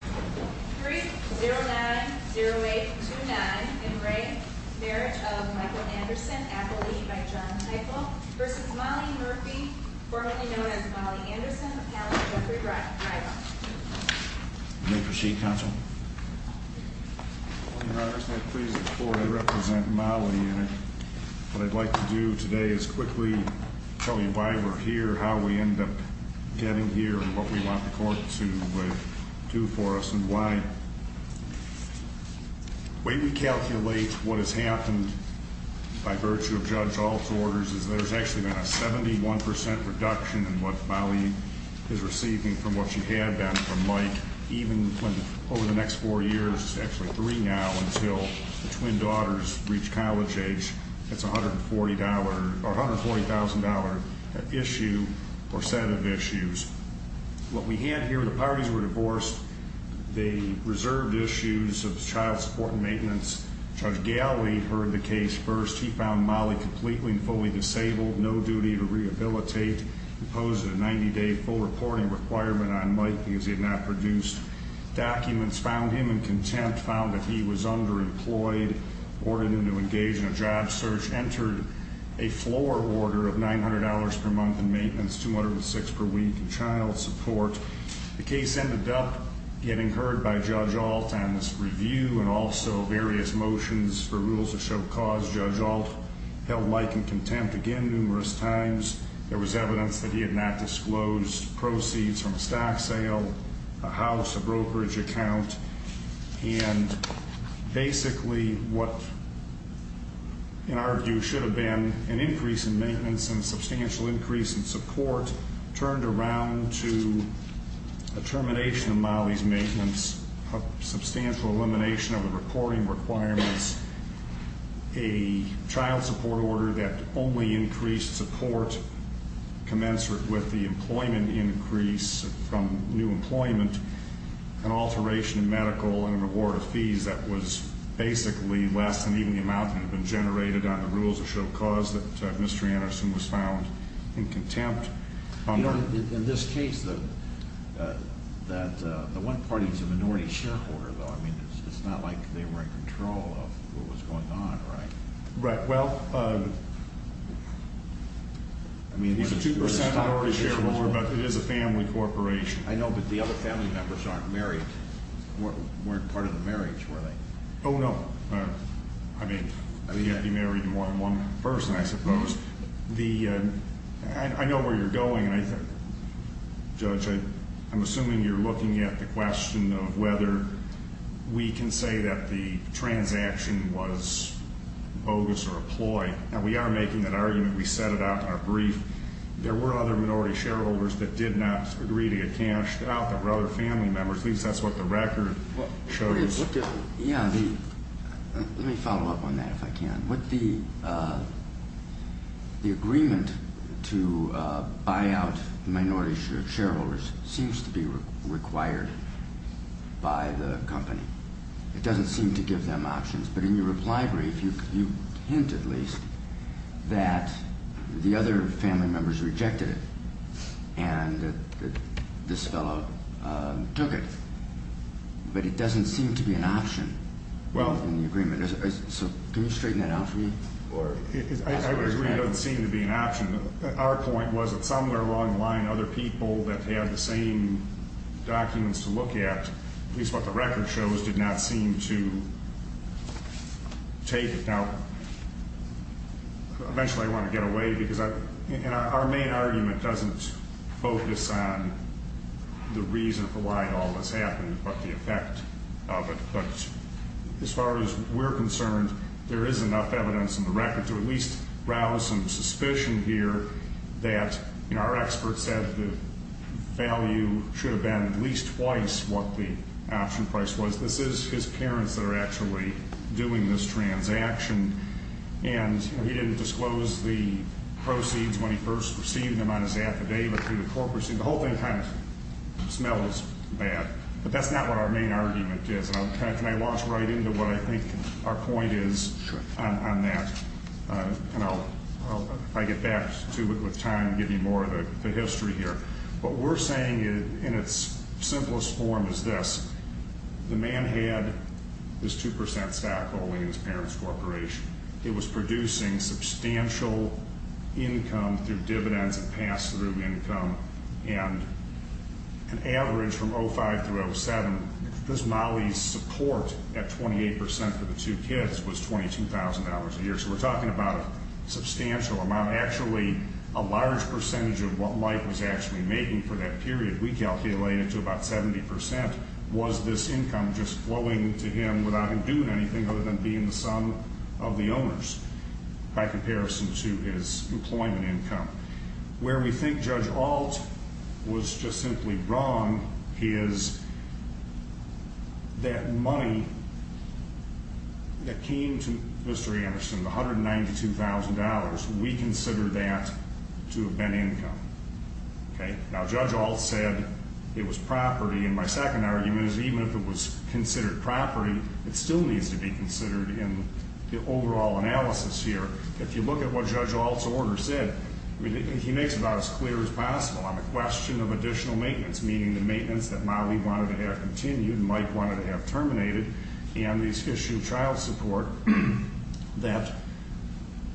090829 in re Marriage of Michael Anderson Appellee by John Teichel v. Molly Murphy, formerly known as Molly Anderson, Appellant Jeffrey Reilly. You may proceed, Counsel. I'd like to do today is quickly tell you why we're here, how we end up getting here and what we want the court to do for us and why. The way we calculate what has happened by virtue of Judge Ault's orders is there's actually been a 71% reduction in what Molly is receiving from what she had then from Mike. Even when over the next four years, it's actually three now until the twin daughters reach college age, that's $140,000 issue or set of issues. What we had here, the parties were divorced. They reserved issues of child support and maintenance. Judge Galley heard the case first. He found Molly completely and fully disabled, no duty to rehabilitate. He posed a 90-day full reporting requirement on Mike because he had not produced documents. Found him in contempt, found that he was underemployed, ordered him to engage in a job search. Entered a floor order of $900 per month in maintenance, $206 per week in child support. The case ended up getting heard by Judge Ault on this review and also various motions for rules of show cause. Judge Ault held like and contempt again numerous times. There was evidence that he had not disclosed proceeds from a stock sale, a house, a brokerage account. And basically what, in our view, should have been an increase in maintenance and a substantial increase in support turned around to a termination of Molly's maintenance, a substantial elimination of the reporting requirements, a child support order that only increased support commensurate with the employment increase from new employment, an alteration in medical and an award of fees that was basically less than even the amount that had been generated on the rules of show cause that Mr. Anderson was found in contempt. You know, in this case, the one party is a minority shareholder, though. I mean, it's not like they were in control of what was going on, right? Right. Well, he's a 2% minority shareholder, but it is a family corporation. I know, but the other family members aren't married, weren't part of the marriage, were they? Oh, no. I mean, he had to be married to more than one person, I suppose. I know where you're going, Judge. I'm assuming you're looking at the question of whether we can say that the transaction was bogus or a ploy. Now, we are making that argument. We set it out in our brief. There were other minority shareholders that did not agree to get cashed out. There were other family members. At least that's what the record shows. Let me follow up on that, if I can. The agreement to buy out minority shareholders seems to be required by the company. It doesn't seem to give them options. But in your reply brief, you hint at least that the other family members rejected it and that this fellow took it. But it doesn't seem to be an option in the agreement. So can you straighten that out for me? I would agree it doesn't seem to be an option. Our point was that somewhere along the line, other people that had the same documents to look at, at least what the record shows, did not seem to take it. Now, eventually I want to get away because our main argument doesn't focus on the reason for why all this happened but the effect of it. But as far as we're concerned, there is enough evidence in the record to at least rouse some suspicion here that, our experts said the value should have been at least twice what the option price was. This is his parents that are actually doing this transaction. And he didn't disclose the proceeds when he first received them on his affidavit through the corporate. The whole thing kind of smells bad. But that's not what our main argument is. Can I launch right into what I think our point is on that? And I'll get back to it with time and give you more of the history here. What we're saying in its simplest form is this. The man had this 2% stock holding in his parents' corporation. It was producing substantial income through dividends and pass-through income. And an average from 05 through 07, this Molly's support at 28% for the two kids was $22,000 a year. So we're talking about a substantial amount. Actually, a large percentage of what Mike was actually making for that period, we calculated to about 70%, was this income just flowing to him without him doing anything other than being the son of the owners by comparison to his employment income. Where we think Judge Ault was just simply wrong is that money that came to Mr. Anderson, the $192,000, we considered that to have been income. Now, Judge Ault said it was property. And my second argument is even if it was considered property, it still needs to be considered in the overall analysis here. If you look at what Judge Ault's order said, he makes it about as clear as possible on the question of additional maintenance, meaning the maintenance that Molly wanted to have continued and Mike wanted to have terminated, and this issue of child support, that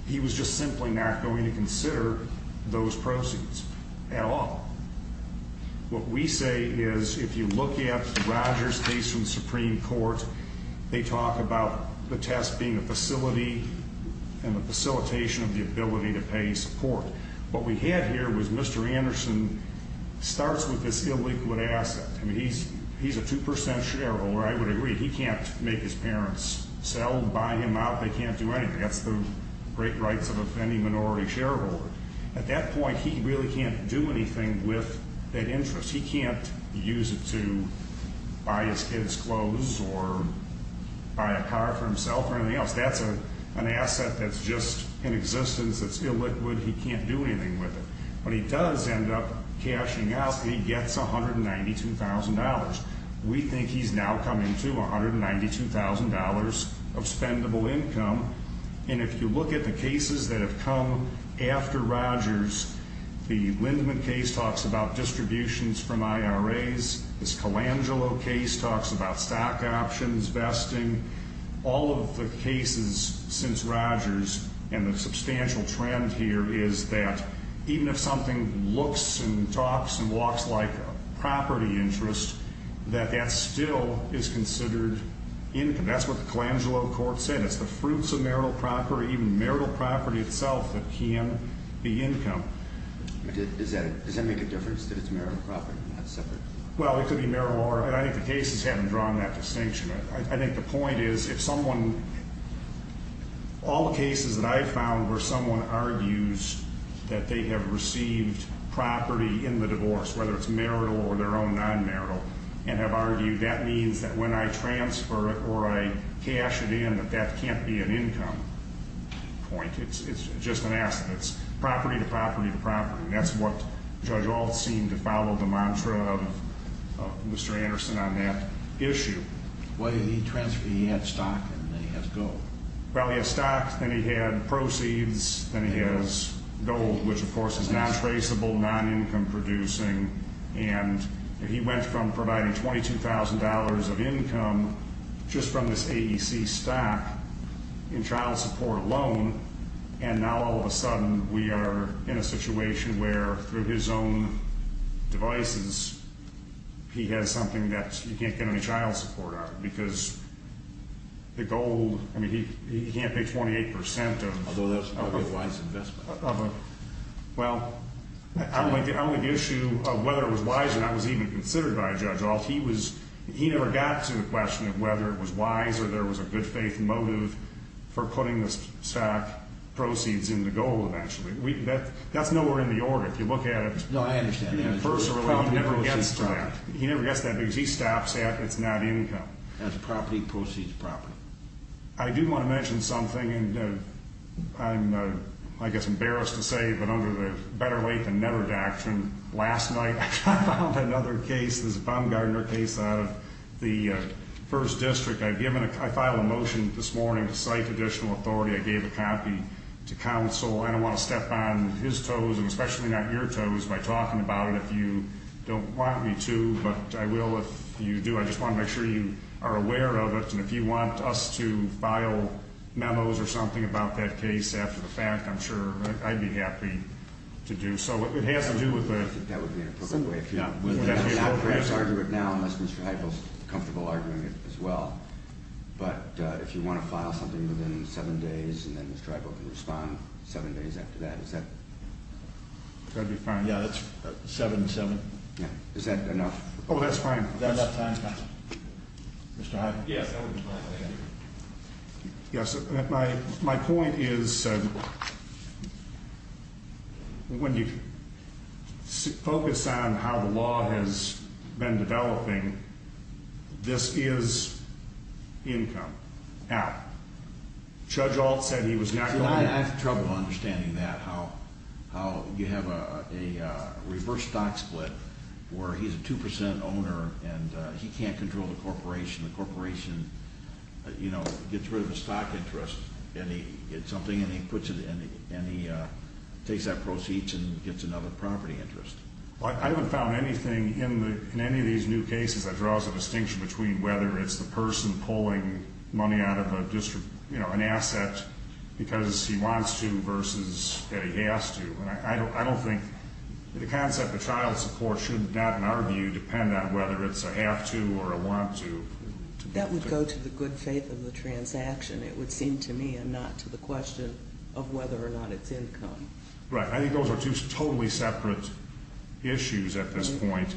he was just simply not going to consider those proceeds at all. What we say is if you look at Roger's case from the Supreme Court, they talk about the test being a facility and the facilitation of the ability to pay support. What we had here was Mr. Anderson starts with this illiquid asset. I mean, he's a 2% shareholder. I would agree. He can't make his parents sell, buy him out. They can't do anything. That's the great rights of any minority shareholder. At that point, he really can't do anything with that interest. He can't use it to buy his kids clothes or buy a car for himself or anything else. That's an asset that's just in existence that's illiquid. He can't do anything with it. But he does end up cashing out. He gets $192,000. We think he's now coming to $192,000 of spendable income. And if you look at the cases that have come after Roger's, the Lindemann case talks about distributions from IRAs. This Colangelo case talks about stock options, vesting. All of the cases since Roger's and the substantial trend here is that even if something looks and talks and walks like a property interest, that that still is considered income. That's what the Colangelo court said. It's the fruits of marital property, even marital property itself, that can be income. Does that make a difference that it's marital property and not separate? Well, it could be marital property. I think the cases haven't drawn that distinction. I think the point is if someone – all the cases that I've found where someone argues that they have received property in the divorce, whether it's marital or their own non-marital, and have argued that means that when I transfer it or I cash it in, that that can't be an income point. It's just an asset. It's property to property to property. That's what Judge Ault seemed to follow the mantra of Mr. Anderson on that issue. Why did he transfer? He had stock and then he has gold. Well, he had stock, then he had proceeds, then he has gold, which, of course, is non-traceable, non-income producing. And he went from providing $22,000 of income just from this AEC stock in child support alone, and now all of a sudden we are in a situation where through his own devices he has something that you can't get any child support out of because the gold – I mean, he can't pay 28 percent of – Although that's an otherwise investment. Well, I don't like the issue of whether it was wise or not was even considered by Judge Ault. He never got to the question of whether it was wise or there was a good faith motive for putting the stock proceeds into gold eventually. That's nowhere in the order. If you look at it personally, he never gets to that. He never gets to that because he stops at it's not income. That's property proceeds property. I do want to mention something, and I'm, I guess, embarrassed to say, but under the better late than never doctrine, last night I filed another case, this Baumgartner case out of the 1st District. I filed a motion this morning to cite additional authority. I gave a copy to counsel. I don't want to step on his toes and especially not your toes by talking about it if you don't want me to, but I will if you do. But I just want to make sure you are aware of it. And if you want us to file memos or something about that case after the fact, I'm sure I'd be happy to do so. It has to do with the – I think that would be inappropriate. Yeah. We can't perhaps argue it now unless Mr. Hypo is comfortable arguing it as well. But if you want to file something within seven days and then Mr. Hypo can respond seven days after that, is that – That'd be fine. Yeah, that's 7-7. Yeah. Is that enough? Oh, that's fine. Is that enough time, counsel? Mr. Hypo? Yes, that would be fine. Thank you. Yes, my point is when you focus on how the law has been developing, this is income out. Judge Ault said he was not going to – I have trouble understanding that, how you have a reverse stock split where he's a 2% owner and he can't control the corporation. The corporation, you know, gets rid of a stock interest and he gets something and he puts it – and he takes that proceeds and gets another property interest. Well, I haven't found anything in any of these new cases that draws a distinction between whether it's the person pulling money out of an asset because he wants to versus that he has to. And I don't think – the concept of child support should not, in our view, depend on whether it's a have to or a want to. That would go to the good faith of the transaction, it would seem to me, and not to the question of whether or not it's income. Right. I think those are two totally separate issues at this point.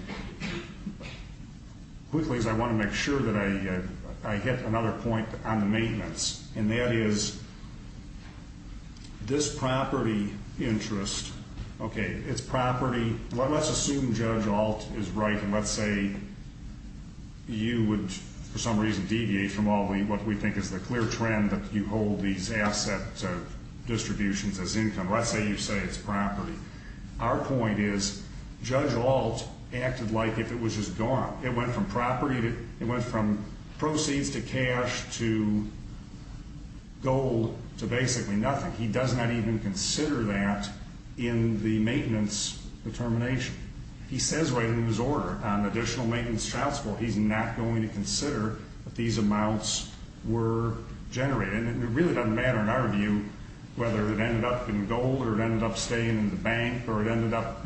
Quickly, as I want to make sure that I hit another point on the maintenance, and that is this property interest, okay, it's property – let's assume Judge Ault is right and let's say you would, for some reason, deviate from what we think is the clear trend that you hold these asset distributions as income. Let's say you say it's property. Our point is Judge Ault acted like if it was just gone. It went from property, it went from proceeds to cash to gold to basically nothing. He does not even consider that in the maintenance determination. He says right in his order, on additional maintenance child support, he's not going to consider that these amounts were generated. And it really doesn't matter, in our view, whether it ended up in gold or it ended up staying in the bank or it ended up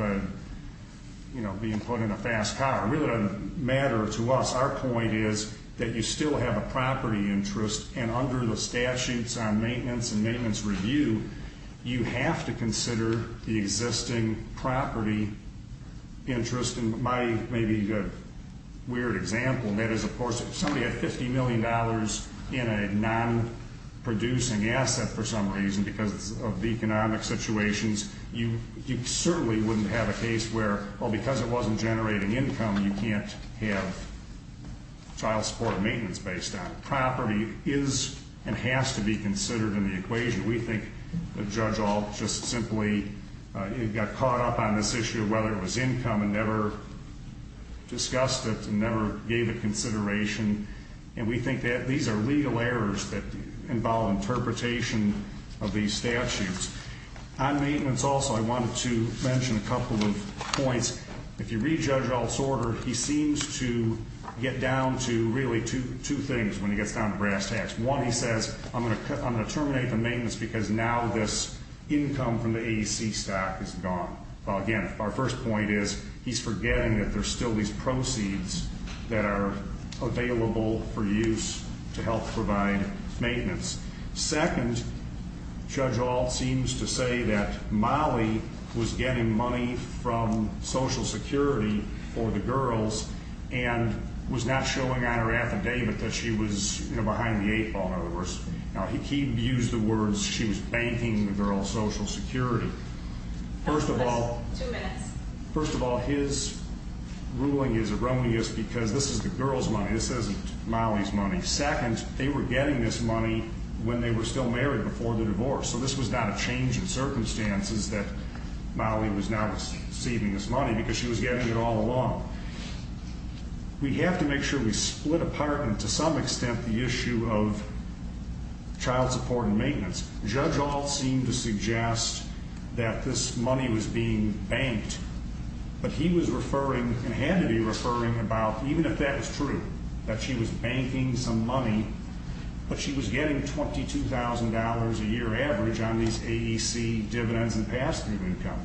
being put in a fast car. It really doesn't matter to us. Our point is that you still have a property interest, and under the statutes on maintenance and maintenance review, you have to consider the existing property interest. And my maybe weird example, that is, of course, if somebody had $50 million in a non-producing asset for some reason because of economic situations, you certainly wouldn't have a case where, well, because it wasn't generating income, you can't have child support or maintenance based on it. Property is and has to be considered in the equation. We think that Judge Ault just simply got caught up on this issue of whether it was income and never discussed it and never gave it consideration. And we think that these are legal errors that involve interpretation of these statutes. On maintenance also, I wanted to mention a couple of points. If you read Judge Ault's order, he seems to get down to really two things when he gets down to brass tacks. One, he says, I'm going to terminate the maintenance because now this income from the ADC stock is gone. Again, our first point is he's forgetting that there's still these proceeds that are available for use to help provide maintenance. Second, Judge Ault seems to say that Molly was getting money from Social Security for the girls and was not showing on her affidavit that she was behind the eight ball. In other words, he used the words she was banking the girls' Social Security. First of all, his ruling is erroneous because this is the girls' money. This isn't Molly's money. Second, they were getting this money when they were still married before the divorce. So this was not a change in circumstances that Molly was now receiving this money because she was getting it all along. We have to make sure we split apart and to some extent the issue of child support and maintenance. Judge Ault seemed to suggest that this money was being banked. But he was referring and had to be referring about, even if that was true, that she was banking some money, but she was getting $22,000 a year average on these ADC dividends and pass-through income.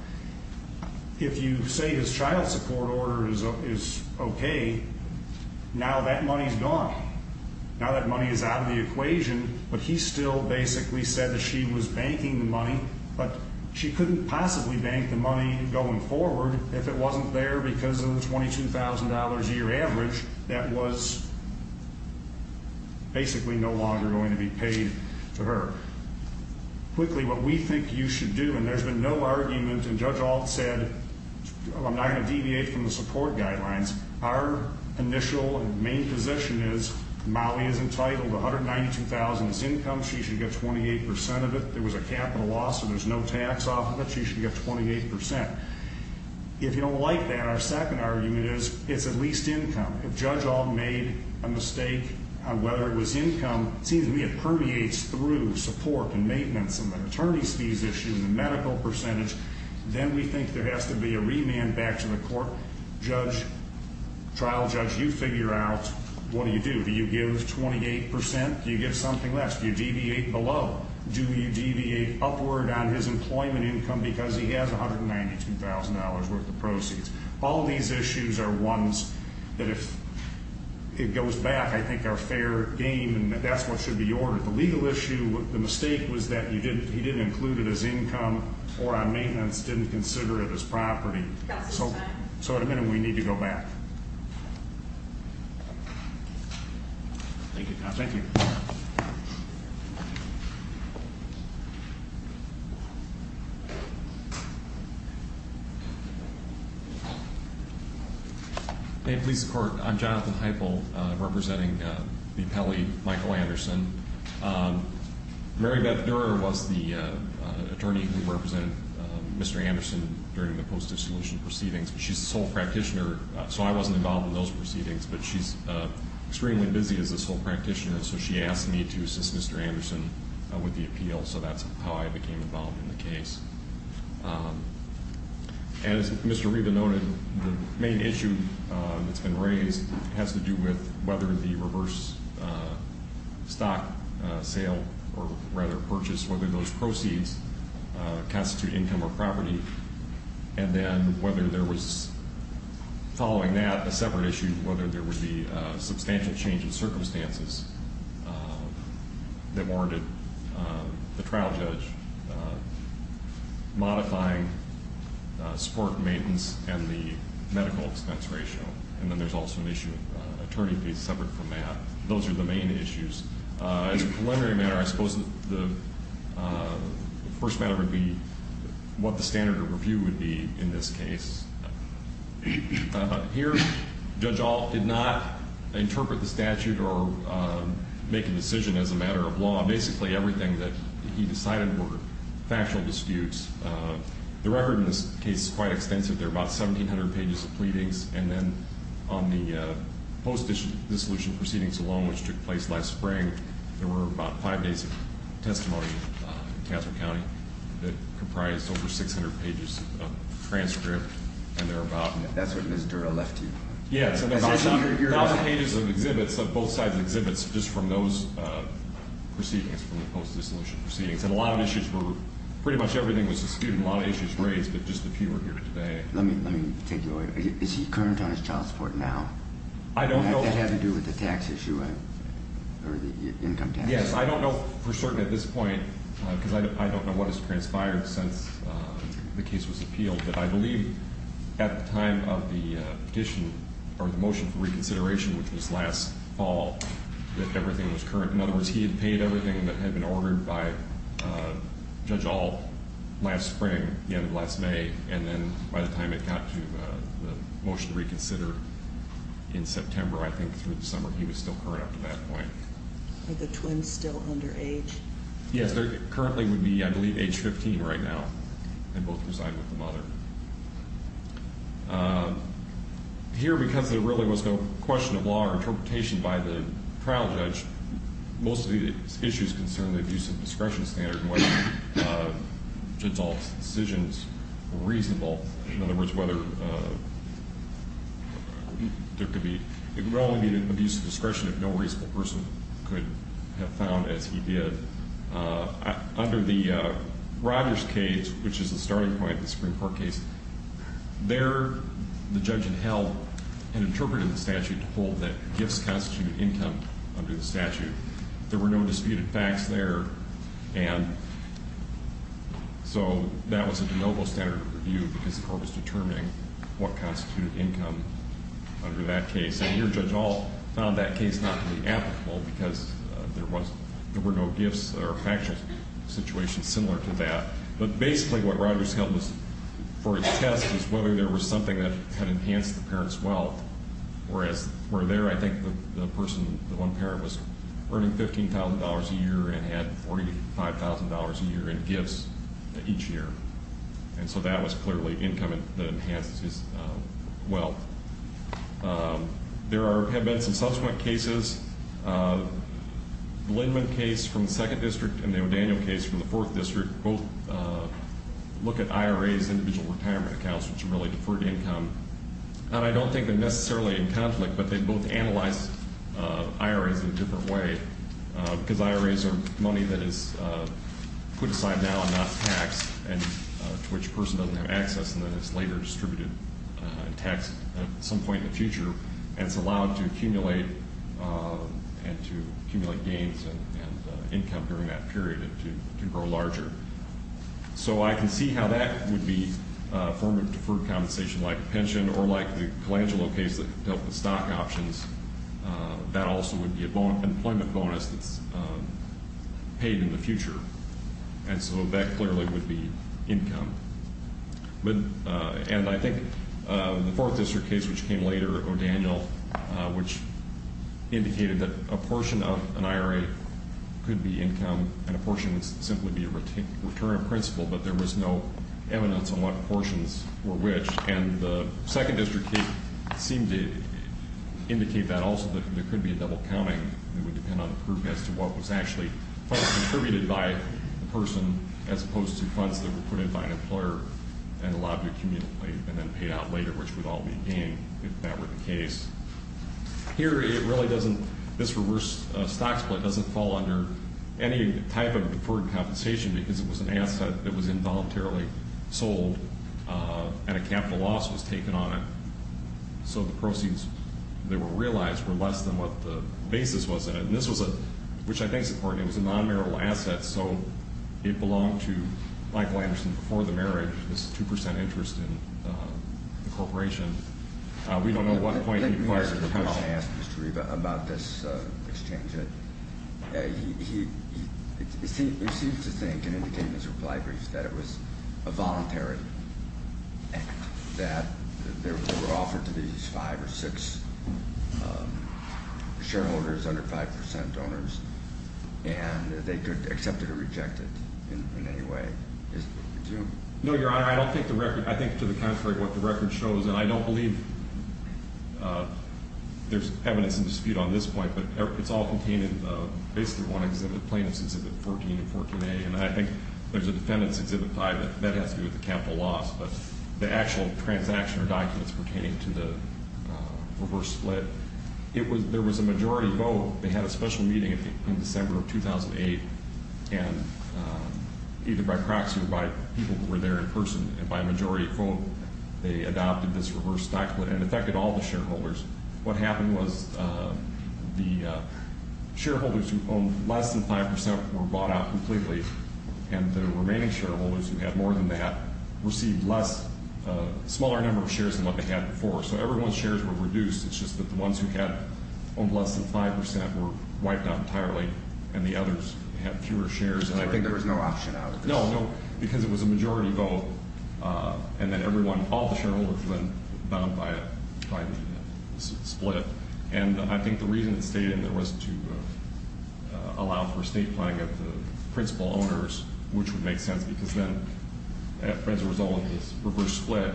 If you say his child support order is okay, now that money is gone. Now that money is out of the equation, but he still basically said that she was banking the money, but she couldn't possibly bank the money going forward if it wasn't there because of the $22,000 a year average that was basically no longer going to be paid to her. Quickly, what we think you should do, and there's been no argument, and Judge Ault said, I'm not going to deviate from the support guidelines. Our initial and main position is Molly is entitled to $192,000 as income. She should get 28% of it. There was a capital loss, so there's no tax off of it. She should get 28%. If you don't like that, our second argument is it's at least income. If Judge Ault made a mistake on whether it was income, it seems to me it permeates through support and maintenance and the attorney's fees issue and the medical percentage. Then we think there has to be a remand back to the court. Judge, trial judge, you figure out what do you do. Do you give 28%? Do you give something less? Do you deviate below? Do you deviate upward on his employment income because he has $192,000 worth of proceeds? All these issues are ones that if it goes back, I think are fair game and that's what should be ordered. The legal issue, the mistake was that he didn't include it as income or on maintenance, didn't consider it as property. So at a minute, we need to go back. Thank you. Thank you. Thank you. Hey, police court. I'm Jonathan Heifel representing the appellee, Michael Anderson. Mary Beth Durer was the attorney who represented Mr. Anderson during the post-dissolution proceedings. She's a sole practitioner, so I wasn't involved in those proceedings, but she's extremely busy as a sole practitioner, so she asked me to assist Mr. Anderson with the appeal, so that's how I became involved in the case. As Mr. Riva noted, the main issue that's been raised has to do with whether the reverse stock sale, or rather purchase, whether those proceeds constitute income or property, and then whether there was, following that, a separate issue, whether there would be substantial change in circumstances that warranted the trial judge modifying support, maintenance, and the medical expense ratio. And then there's also an issue of attorney fees separate from that. Those are the main issues. As a preliminary matter, I suppose the first matter would be what the standard of review would be in this case. Here, Judge Ault did not interpret the statute or make a decision as a matter of law. Basically, everything that he decided were factual disputes. The record in this case is quite extensive. There are about 1,700 pages of pleadings. And then on the post-dissolution proceedings alone, which took place last spring, there were about five days of testimony in Taffer County that comprised over 600 pages of transcript. And there are about- That's what Ms. Dura left to you. Yes. A thousand pages of exhibits, of both sides' exhibits, just from those proceedings, from the post-dissolution proceedings. And a lot of issues were, pretty much everything was disputed. A lot of issues raised, but just a few are here today. Let me take you away. Is he current on his child support now? I don't know. Does that have to do with the tax issue or the income tax? Yes. I don't know for certain at this point, because I don't know what has transpired since the case was appealed, but I believe at the time of the petition or the motion for reconsideration, which was last fall, that everything was current. In other words, he had paid everything that had been ordered by Judge Ault last spring, the end of last May, and then by the time it got to the motion to reconsider in September, I think, through the summer, he was still current up to that point. Are the twins still underage? Yes. They currently would be, I believe, age 15 right now, and both reside with the mother. Here, because there really was no question of law or interpretation by the trial judge, most of the issues concern the abuse of discretion standard and whether Judge Ault's decisions were reasonable. In other words, whether there could only be abuse of discretion if no reasonable person could have found, as he did. Under the Rogers case, which is the starting point of the Supreme Court case, there the judge had held an interpretive statute to hold that gifts constitute income under the statute. There were no disputed facts there, and so that was a de novo standard of review because the court was determining what constituted income under that case. And here Judge Ault found that case not to be applicable because there were no gifts or factual situations similar to that. But basically what Rogers held for his test was whether there was something that had enhanced the parent's wealth, whereas where there, I think the person, the one parent, was earning $15,000 a year and had $45,000 a year in gifts each year. And so that was clearly income that enhanced his wealth. There have been some subsequent cases. The Lindman case from the second district and the O'Daniel case from the fourth district both look at IRAs, individual retirement accounts, which are really deferred income. And I don't think they're necessarily in conflict, but they both analyze IRAs in a different way because IRAs are money that is put aside now and not taxed, and to which a person doesn't have access and then it's later distributed and taxed at some point in the future. And it's allowed to accumulate and to accumulate gains and income during that period and to grow larger. So I can see how that would be a form of deferred compensation like a pension or like the Colangelo case that dealt with stock options. That also would be an employment bonus that's paid in the future. And so that clearly would be income. And I think the fourth district case, which came later, O'Daniel, which indicated that a portion of an IRA could be income and a portion would simply be a return of principal, but there was no evidence on what portions were which. And the second district case seemed to indicate that also that there could be a double counting that would depend on the proof as to what was actually contributed by the person as opposed to funds that were put in by an employer and allowed to accumulate and then paid out later, which would all be gain if that were the case. Here, it really doesn't – this reverse stock split doesn't fall under any type of deferred compensation because it was an asset that was involuntarily sold and a capital loss was taken on it. So the proceeds that were realized were less than what the basis was in it. And this was a – which I think is important. It was a non-marital asset, so it belonged to Michael Anderson before the marriage, this 2 percent interest in the corporation. We don't know what point he acquired the capital. Let me answer the question I asked Mr. Riva about this exchange. He seemed to think and indicated in his reply brief that it was a voluntary act, that they were offered to these five or six shareholders under 5 percent owners and they could accept it or reject it in any way. No, Your Honor. I don't think the record – I think to the contrary what the record shows, and I don't believe there's evidence in dispute on this point, but it's all contained in basically one exhibit, Plaintiffs' Exhibit 14 and 14A, and I think there's a Defendant's Exhibit 5. That has to do with the capital loss. But the actual transaction or documents pertaining to the reverse split, there was a majority vote. They had a special meeting in December of 2008, and either by proxy or by people who were there in person, and by a majority vote they adopted this reverse stock split and affected all the shareholders. What happened was the shareholders who owned less than 5 percent were bought out completely, and the remaining shareholders who had more than that received a smaller number of shares than what they had before. So everyone's shares were reduced. It's just that the ones who had owned less than 5 percent were wiped out entirely, So I think there was no option out of this. No, because it was a majority vote, and then all the shareholders were then bound by the split. And I think the reason it stayed in there was to allow for a state planning of the principal owners, which would make sense because then as a result of this reverse split,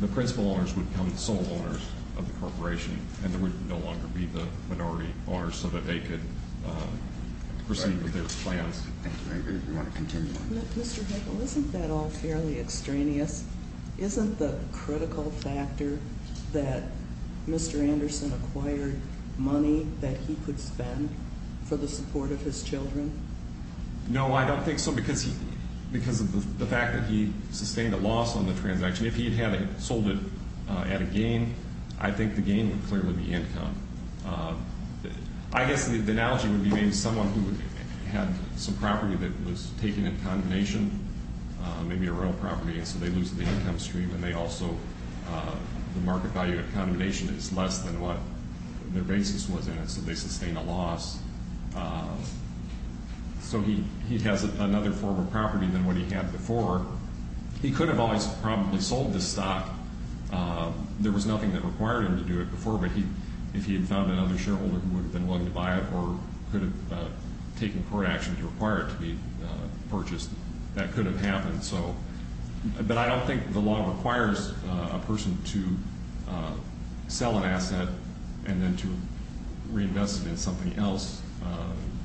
the principal owners would become the sole owners of the corporation, and they would no longer be the minority owners so that they could proceed with their plans. Mr. Heckel, isn't that all fairly extraneous? Isn't the critical factor that Mr. Anderson acquired money that he could spend for the support of his children? No, I don't think so, because of the fact that he sustained a loss on the transaction. If he had sold it at a gain, I think the gain would clearly be income. I guess the analogy would be maybe someone who had some property that was taken in condemnation, maybe a real property, and so they lose the income stream, and the market value of condemnation is less than what their basis was in it, so they sustain a loss. So he has another form of property than what he had before. He could have always probably sold this stock. There was nothing that required him to do it before, but if he had found another shareholder who would have been willing to buy it or could have taken court action to require it to be purchased, that could have happened. But I don't think the law requires a person to sell an asset and then to reinvest it in something else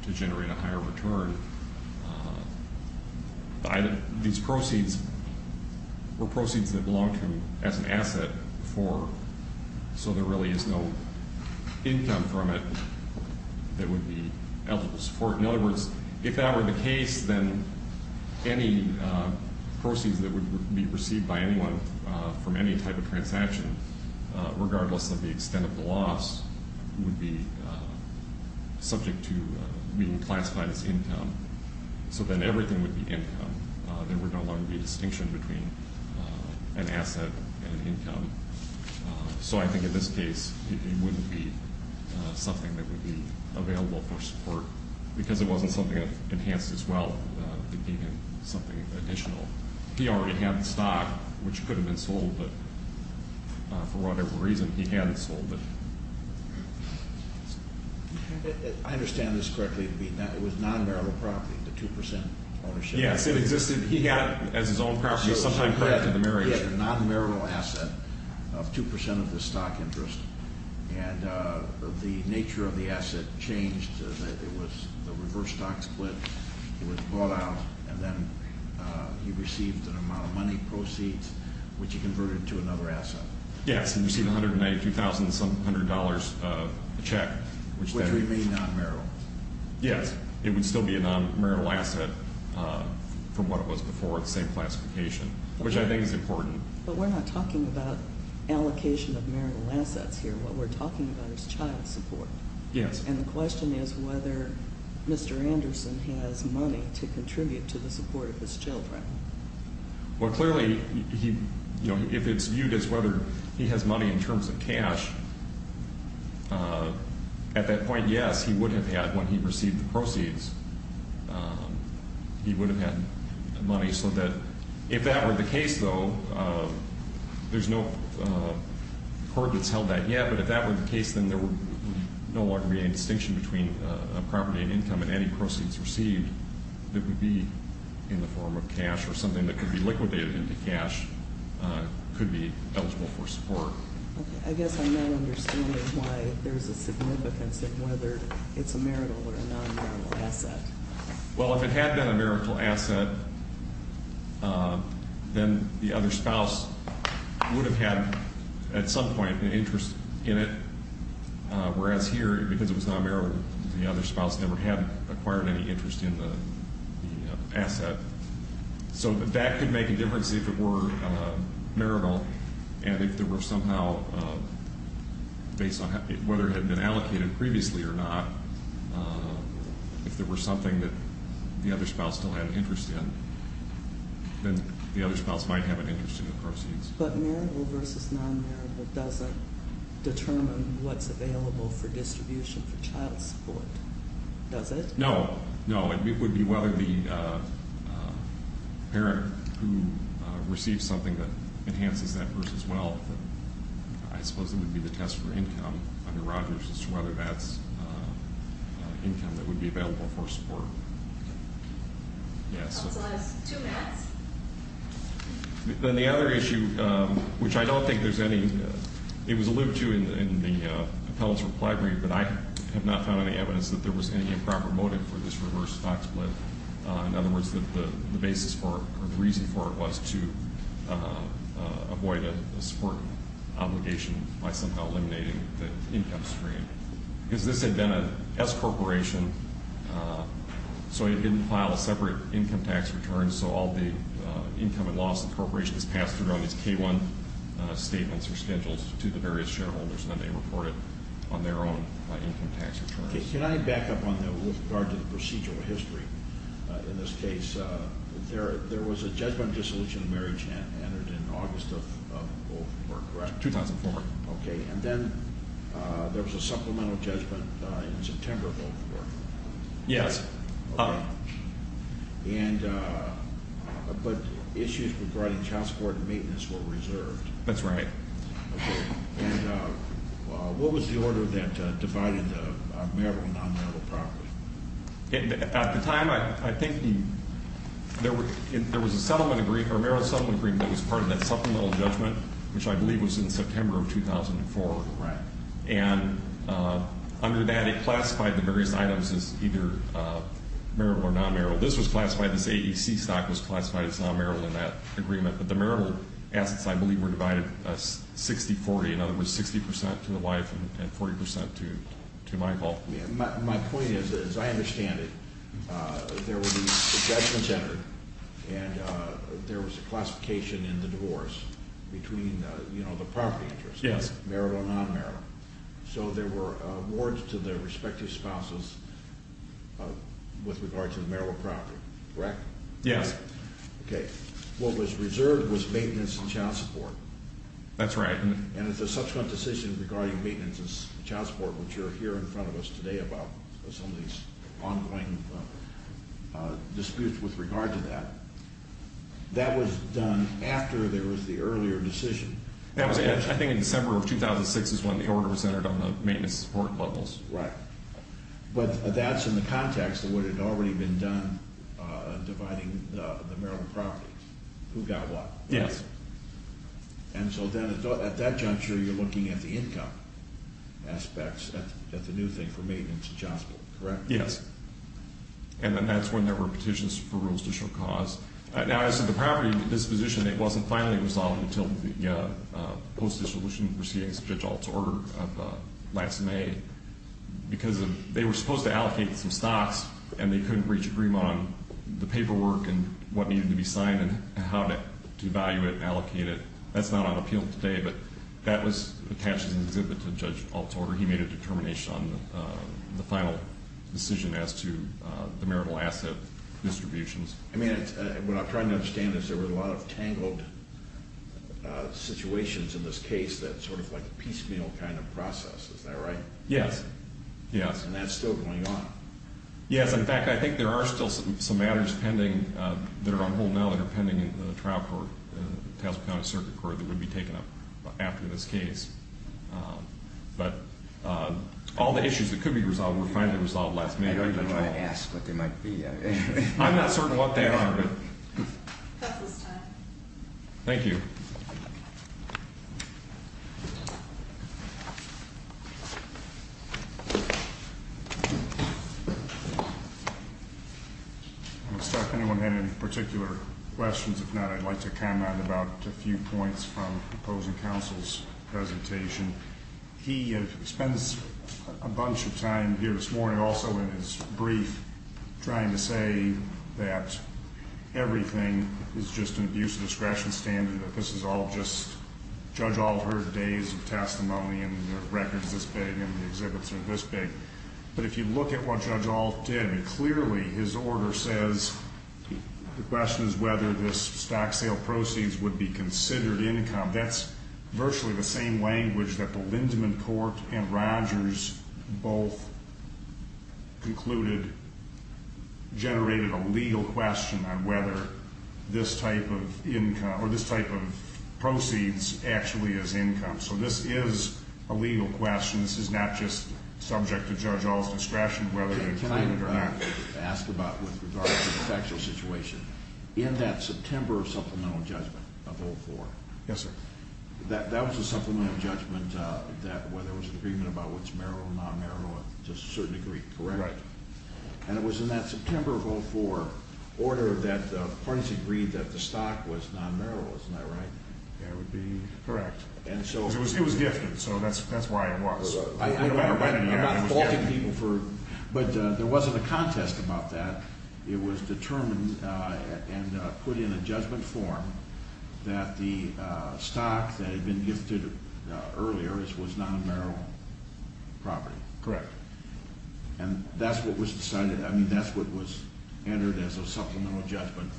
to generate a higher return. These proceeds were proceeds that belonged to him as an asset before, so there really is no income from it that would be eligible support. In other words, if that were the case, then any proceeds that would be received by anyone from any type of transaction, regardless of the extent of the loss, would be subject to being classified as income, so then everything would be income. There would no longer be a distinction between an asset and an income. So I think in this case, it wouldn't be something that would be available for support because it wasn't something that enhanced his wealth. It gave him something additional. He already had the stock, which could have been sold, but for whatever reason, he hadn't sold it. I understand this correctly. It was non-marital property, the 2% ownership. Yes, it existed. He had, as his own property, sometime prior to the marriage. He had a non-marital asset of 2% of the stock interest, and the nature of the asset changed. It was the reverse stock split. It was bought out, and then he received an amount of money, proceeds, which he converted to another asset. Yes, he received $192,700 a check. Which remained non-marital. Yes, it would still be a non-marital asset from what it was before, the same classification, which I think is important. But we're not talking about allocation of marital assets here. What we're talking about is child support. Yes. And the question is whether Mr. Anderson has money to contribute to the support of his children. Well, clearly, if it's viewed as whether he has money in terms of cash, at that point, yes, he would have had when he received the proceeds. He would have had money so that if that were the case, though, there's no court that's held that yet, but if that were the case, then there would no longer be any distinction between property and income and any proceeds received that would be in the form of cash or something that could be liquidated into cash could be eligible for support. Okay. I guess I'm not understanding why there's a significance of whether it's a marital or a non-marital asset. Well, if it had been a marital asset, then the other spouse would have had at some point an interest in it, whereas here, because it was non-marital, the other spouse never had acquired any interest in the asset. So that could make a difference if it were marital and if there were somehow, based on whether it had been allocated previously or not, if there were something that the other spouse still had an interest in, then the other spouse might have an interest in the proceeds. But marital versus non-marital doesn't determine what's available for distribution for child support, does it? No, no. It would be whether the parent who receives something that enhances that person's wealth, I suppose it would be the test for income under Rogers as to whether that's income that would be available for support. Okay. Yes. That's the last two minutes. Then the other issue, which I don't think there's any, it was alluded to in the Appellate's reply brief, but I have not found any evidence that there was any improper motive for this reverse stock split. In other words, the basis for it, or the reason for it, was to avoid a support obligation by somehow eliminating the income stream. Because this had been an S corporation, so it didn't file a separate income tax return, so all the income and loss of the corporation is passed through on these K-1 statements to the various shareholders, and then they report it on their own income tax returns. Can I back up on that with regard to the procedural history? In this case, there was a judgment of dissolution of marriage entered in August of 2004, correct? 2004. Okay. And then there was a supplemental judgment in September of 2004. Yes. Okay. But issues regarding child support and maintenance were reserved. That's right. And what was the order that divided the marital and non-marital property? At the time, I think there was a settlement agreement, or a marital settlement agreement that was part of that supplemental judgment, which I believe was in September of 2004. Right. And under that, it classified the various items as either marital or non-marital. This was classified, this AEC stock was classified as non-marital in that agreement, but the marital assets, I believe, were divided 60-40. In other words, 60 percent to the wife and 40 percent to Michael. My point is, as I understand it, there were these judgments entered, and there was a classification in the divorce between the property interests, marital and non-marital. So there were awards to the respective spouses with regard to the marital property, correct? Yes. Right. Okay. What was reserved was maintenance and child support. That's right. And it's a subsequent decision regarding maintenance and child support, which you'll hear in front of us today about some of these ongoing disputes with regard to that. That was done after there was the earlier decision. I think in December of 2006 is when the order was entered on the maintenance support levels. Right. But that's in the context of what had already been done dividing the marital property. Who got what. Yes. And so then at that juncture, you're looking at the income aspects, at the new thing for maintenance and child support, correct? Yes. And then that's when there were petitions for rules to show cause. Now, as to the property disposition, it wasn't finally resolved until the post-dissolution proceedings of Judge Alt's order of last May. Because they were supposed to allocate some stocks, and they couldn't reach an agreement on the paperwork and what needed to be signed and how to value it and allocate it. That's not on appeal today, but that was attached as an exhibit to Judge Alt's order. He made a determination on the final decision as to the marital asset distributions. I mean, what I'm trying to understand is there were a lot of tangled situations in this case that sort of like a piecemeal kind of process. Is that right? Yes. And that's still going on. Yes. In fact, I think there are still some matters pending that are on hold now that are pending in the trial court in the Towson County Circuit Court that would be taken up after this case. But all the issues that could be resolved were finally resolved last May. I don't even want to ask what they might be. I'm not certain what they are. That's his time. Thank you. I don't know if anyone had any particular questions. If not, I'd like to comment about a few points from opposing counsel's presentation. He spends a bunch of time here this morning, also in his brief, trying to say that everything is just an abuse of discretion standard, that this is all just Judge Alt's days of testimony and the record is this big and the exhibits are this big. But if you look at what Judge Alt did, clearly his order says the question is whether this stock sale proceeds would be considered income. That's virtually the same language that the Lindemann court and Rogers both concluded generated a legal question on whether this type of proceeds actually is income. So this is a legal question. This is not just subject to Judge Alt's discretion whether they're included or not. Can I ask about, with regard to the factual situation, in that September Supplemental Judgment of 04. Yes, sir. That was a Supplemental Judgment that whether there was an agreement about what's marital or non-marital to a certain degree, correct? Right. And it was in that September of 04 order that parties agreed that the stock was non-marital. Isn't that right? That would be correct. It was gifted, so that's why it was. I'm not faulting people. But there wasn't a contest about that. It was determined and put in a judgment form that the stock that had been gifted earlier was non-marital property. Correct. And that's what was decided. I mean, that's what was entered as a Supplemental Judgment.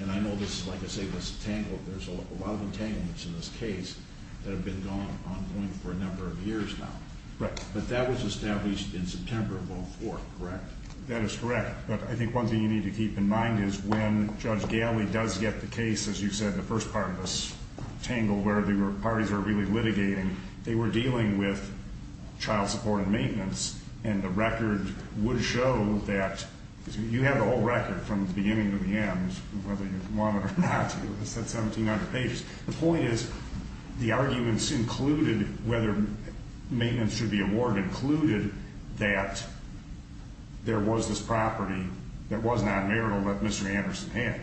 And I know this, like I say, was tangled. There's a lot of entanglements in this case that have been ongoing for a number of years now. But that was established in September of 04, correct? That is correct. But I think one thing you need to keep in mind is when Judge Galley does get the case, as you said, the first part of this tangle where the parties are really litigating, they were dealing with child support and maintenance. And the record would show that you have the whole record from the beginning to the end, whether you want it or not. It's at 1,700 pages. The point is the arguments included, whether maintenance should be awarded, included that there was this property that was non-marital that Mr. Anderson had.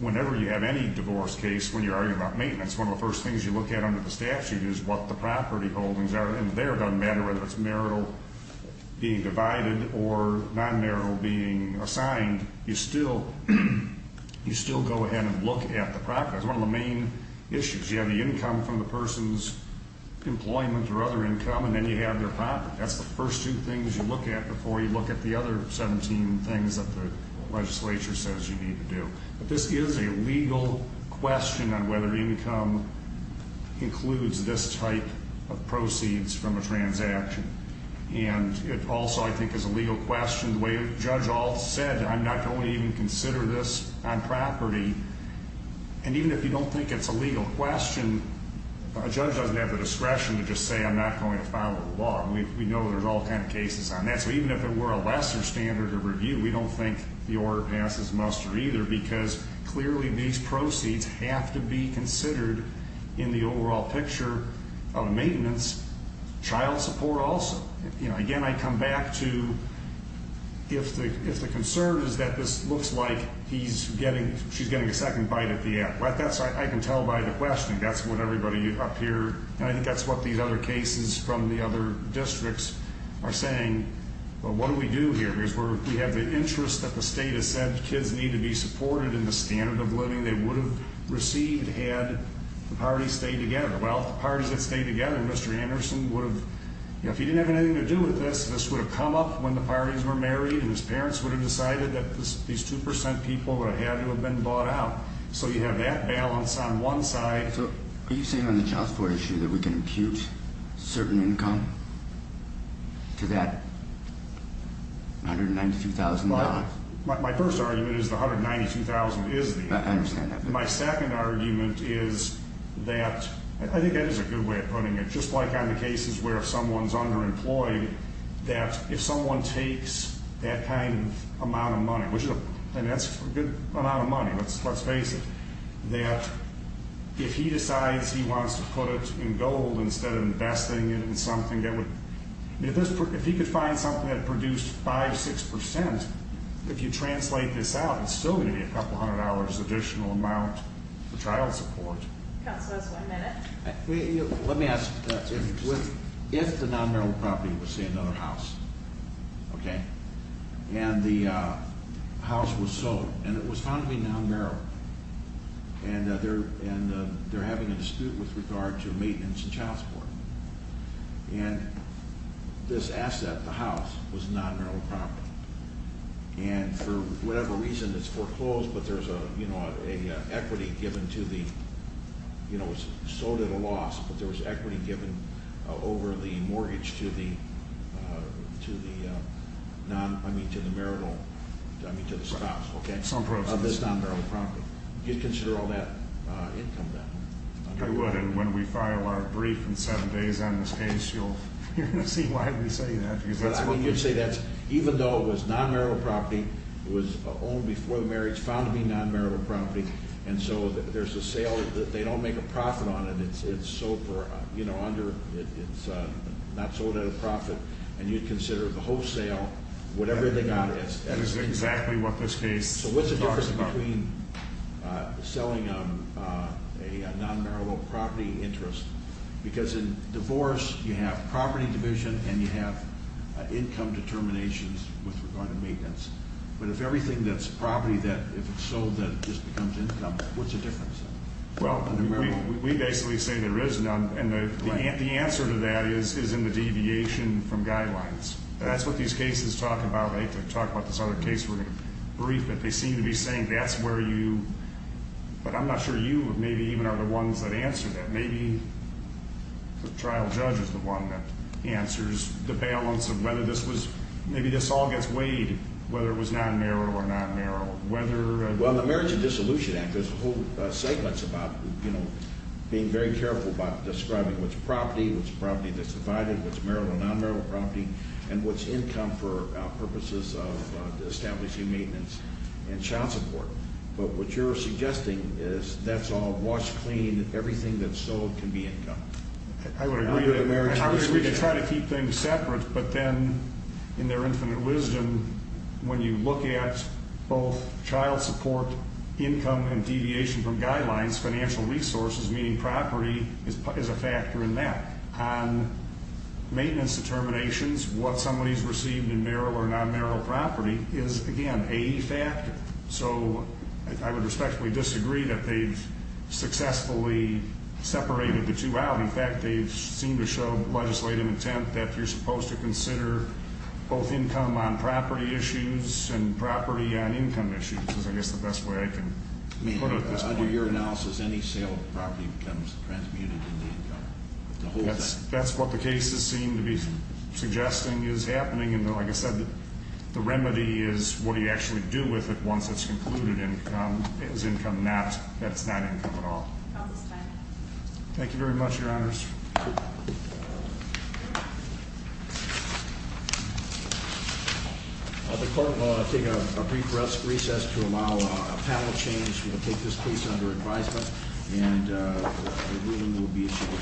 Whenever you have any divorce case, when you're arguing about maintenance, one of the first things you look at under the statute is what the property holdings are. And there it doesn't matter whether it's marital being divided or non-marital being assigned. You still go ahead and look at the property. That's one of the main issues. You have the income from the person's employment or other income, and then you have their property. That's the first two things you look at before you look at the other 17 things that the legislature says you need to do. But this is a legal question on whether income includes this type of proceeds from a transaction. And it also, I think, is a legal question. The way Judge Ault said, I'm not going to even consider this on property. And even if you don't think it's a legal question, a judge doesn't have the discretion to just say I'm not going to follow the law. We know there's all kinds of cases on that. So even if it were a lesser standard of review, we don't think the order passes muster either because clearly these proceeds have to be considered in the overall picture of maintenance, child support also. Again, I come back to if the concern is that this looks like she's getting a second bite at the end. I can tell by the questioning that's what everybody up here, and I think that's what these other cases from the other districts are saying. But what do we do here? We have the interest that the state has said kids need to be supported in the standard of living they would have received had the parties stayed together. Well, if the parties had stayed together, Mr. Anderson would have, if he didn't have anything to do with this, this would have come up when the parties were married and his parents would have decided that these 2% people would have had to have been bought out. So you have that balance on one side. So are you saying on the child support issue that we can impute certain income to that $192,000? My first argument is the $192,000 is the income. I understand that. My second argument is that I think that is a good way of putting it. Just like on the cases where someone is underemployed, that if someone takes that kind of amount of money, and that's a good amount of money, let's face it, that if he decides he wants to put it in gold instead of investing it in something that would, if he could find something that produced 5%, 6%, if you translate this out, it's still going to be a couple hundred dollars additional amount for child support. Counselors, one minute. Let me ask, if the non-marital property was, say, another house, okay, and the house was sold, and it was found to be non-marital, and they're having a dispute with regard to maintenance and child support, and this asset, the house, was a non-marital property, and for whatever reason it's foreclosed, but there's an equity given to the, you know, it was sold at a loss, but there was equity given over the mortgage to the non, I mean, to the marital, I mean, to the spouse, okay, of this non-marital property. You'd consider all that income then? I would, and when we file our brief in seven days on this case, you're going to see why we say that. I mean, you'd say that's, even though it was non-marital property, it was owned before the marriage, found to be non-marital property, and so there's a sale that they don't make a profit on, and it's sold for, you know, under, it's not sold at a profit, and you'd consider the wholesale, whatever they got as equity. That is exactly what this case talks about. So what's the difference between selling a non-marital property interest? Because in divorce, you have property division, and you have income determinations with regard to maintenance. But if everything that's property that, if it's sold, then it just becomes income, what's the difference? Well, we basically say there is none, and the answer to that is in the deviation from guidelines. That's what these cases talk about. They talk about this other case, we're going to brief it. They seem to be saying that's where you, but I'm not sure you maybe even are the ones that answer that. Maybe the trial judge is the one that answers the balance of whether this was, maybe this all gets weighed whether it was non-marital or non-marital. Well, in the Marriage and Dissolution Act, there's a whole segment about, you know, being very careful about describing what's property, what's property that's divided, what's marital and non-marital property, and what's income for purposes of establishing maintenance and child support. But what you're suggesting is that's all washed clean, everything that's sold can be income. I would agree with the Marriage and Dissolution Act. I would agree to try to keep things separate, but then in their infinite wisdom, when you look at both child support, income, and deviation from guidelines, financial resources, meaning property, is a factor in that. On maintenance determinations, what somebody's received in marital or non-marital property is, again, a factor. So I would respectfully disagree that they've successfully separated the two out. In fact, they seem to show legislative intent that you're supposed to consider both income on property issues and property on income issues is, I guess, the best way I can put it at this point. Under your analysis, any sale of property becomes transmuted into income. That's what the cases seem to be suggesting is happening. Like I said, the remedy is what do you actually do with it once it's concluded as income, that it's not income at all. Thank you very much, Your Honors. The court will take a brief recess to allow a panel change. We will take this case under advisement, and the ruling will be issued.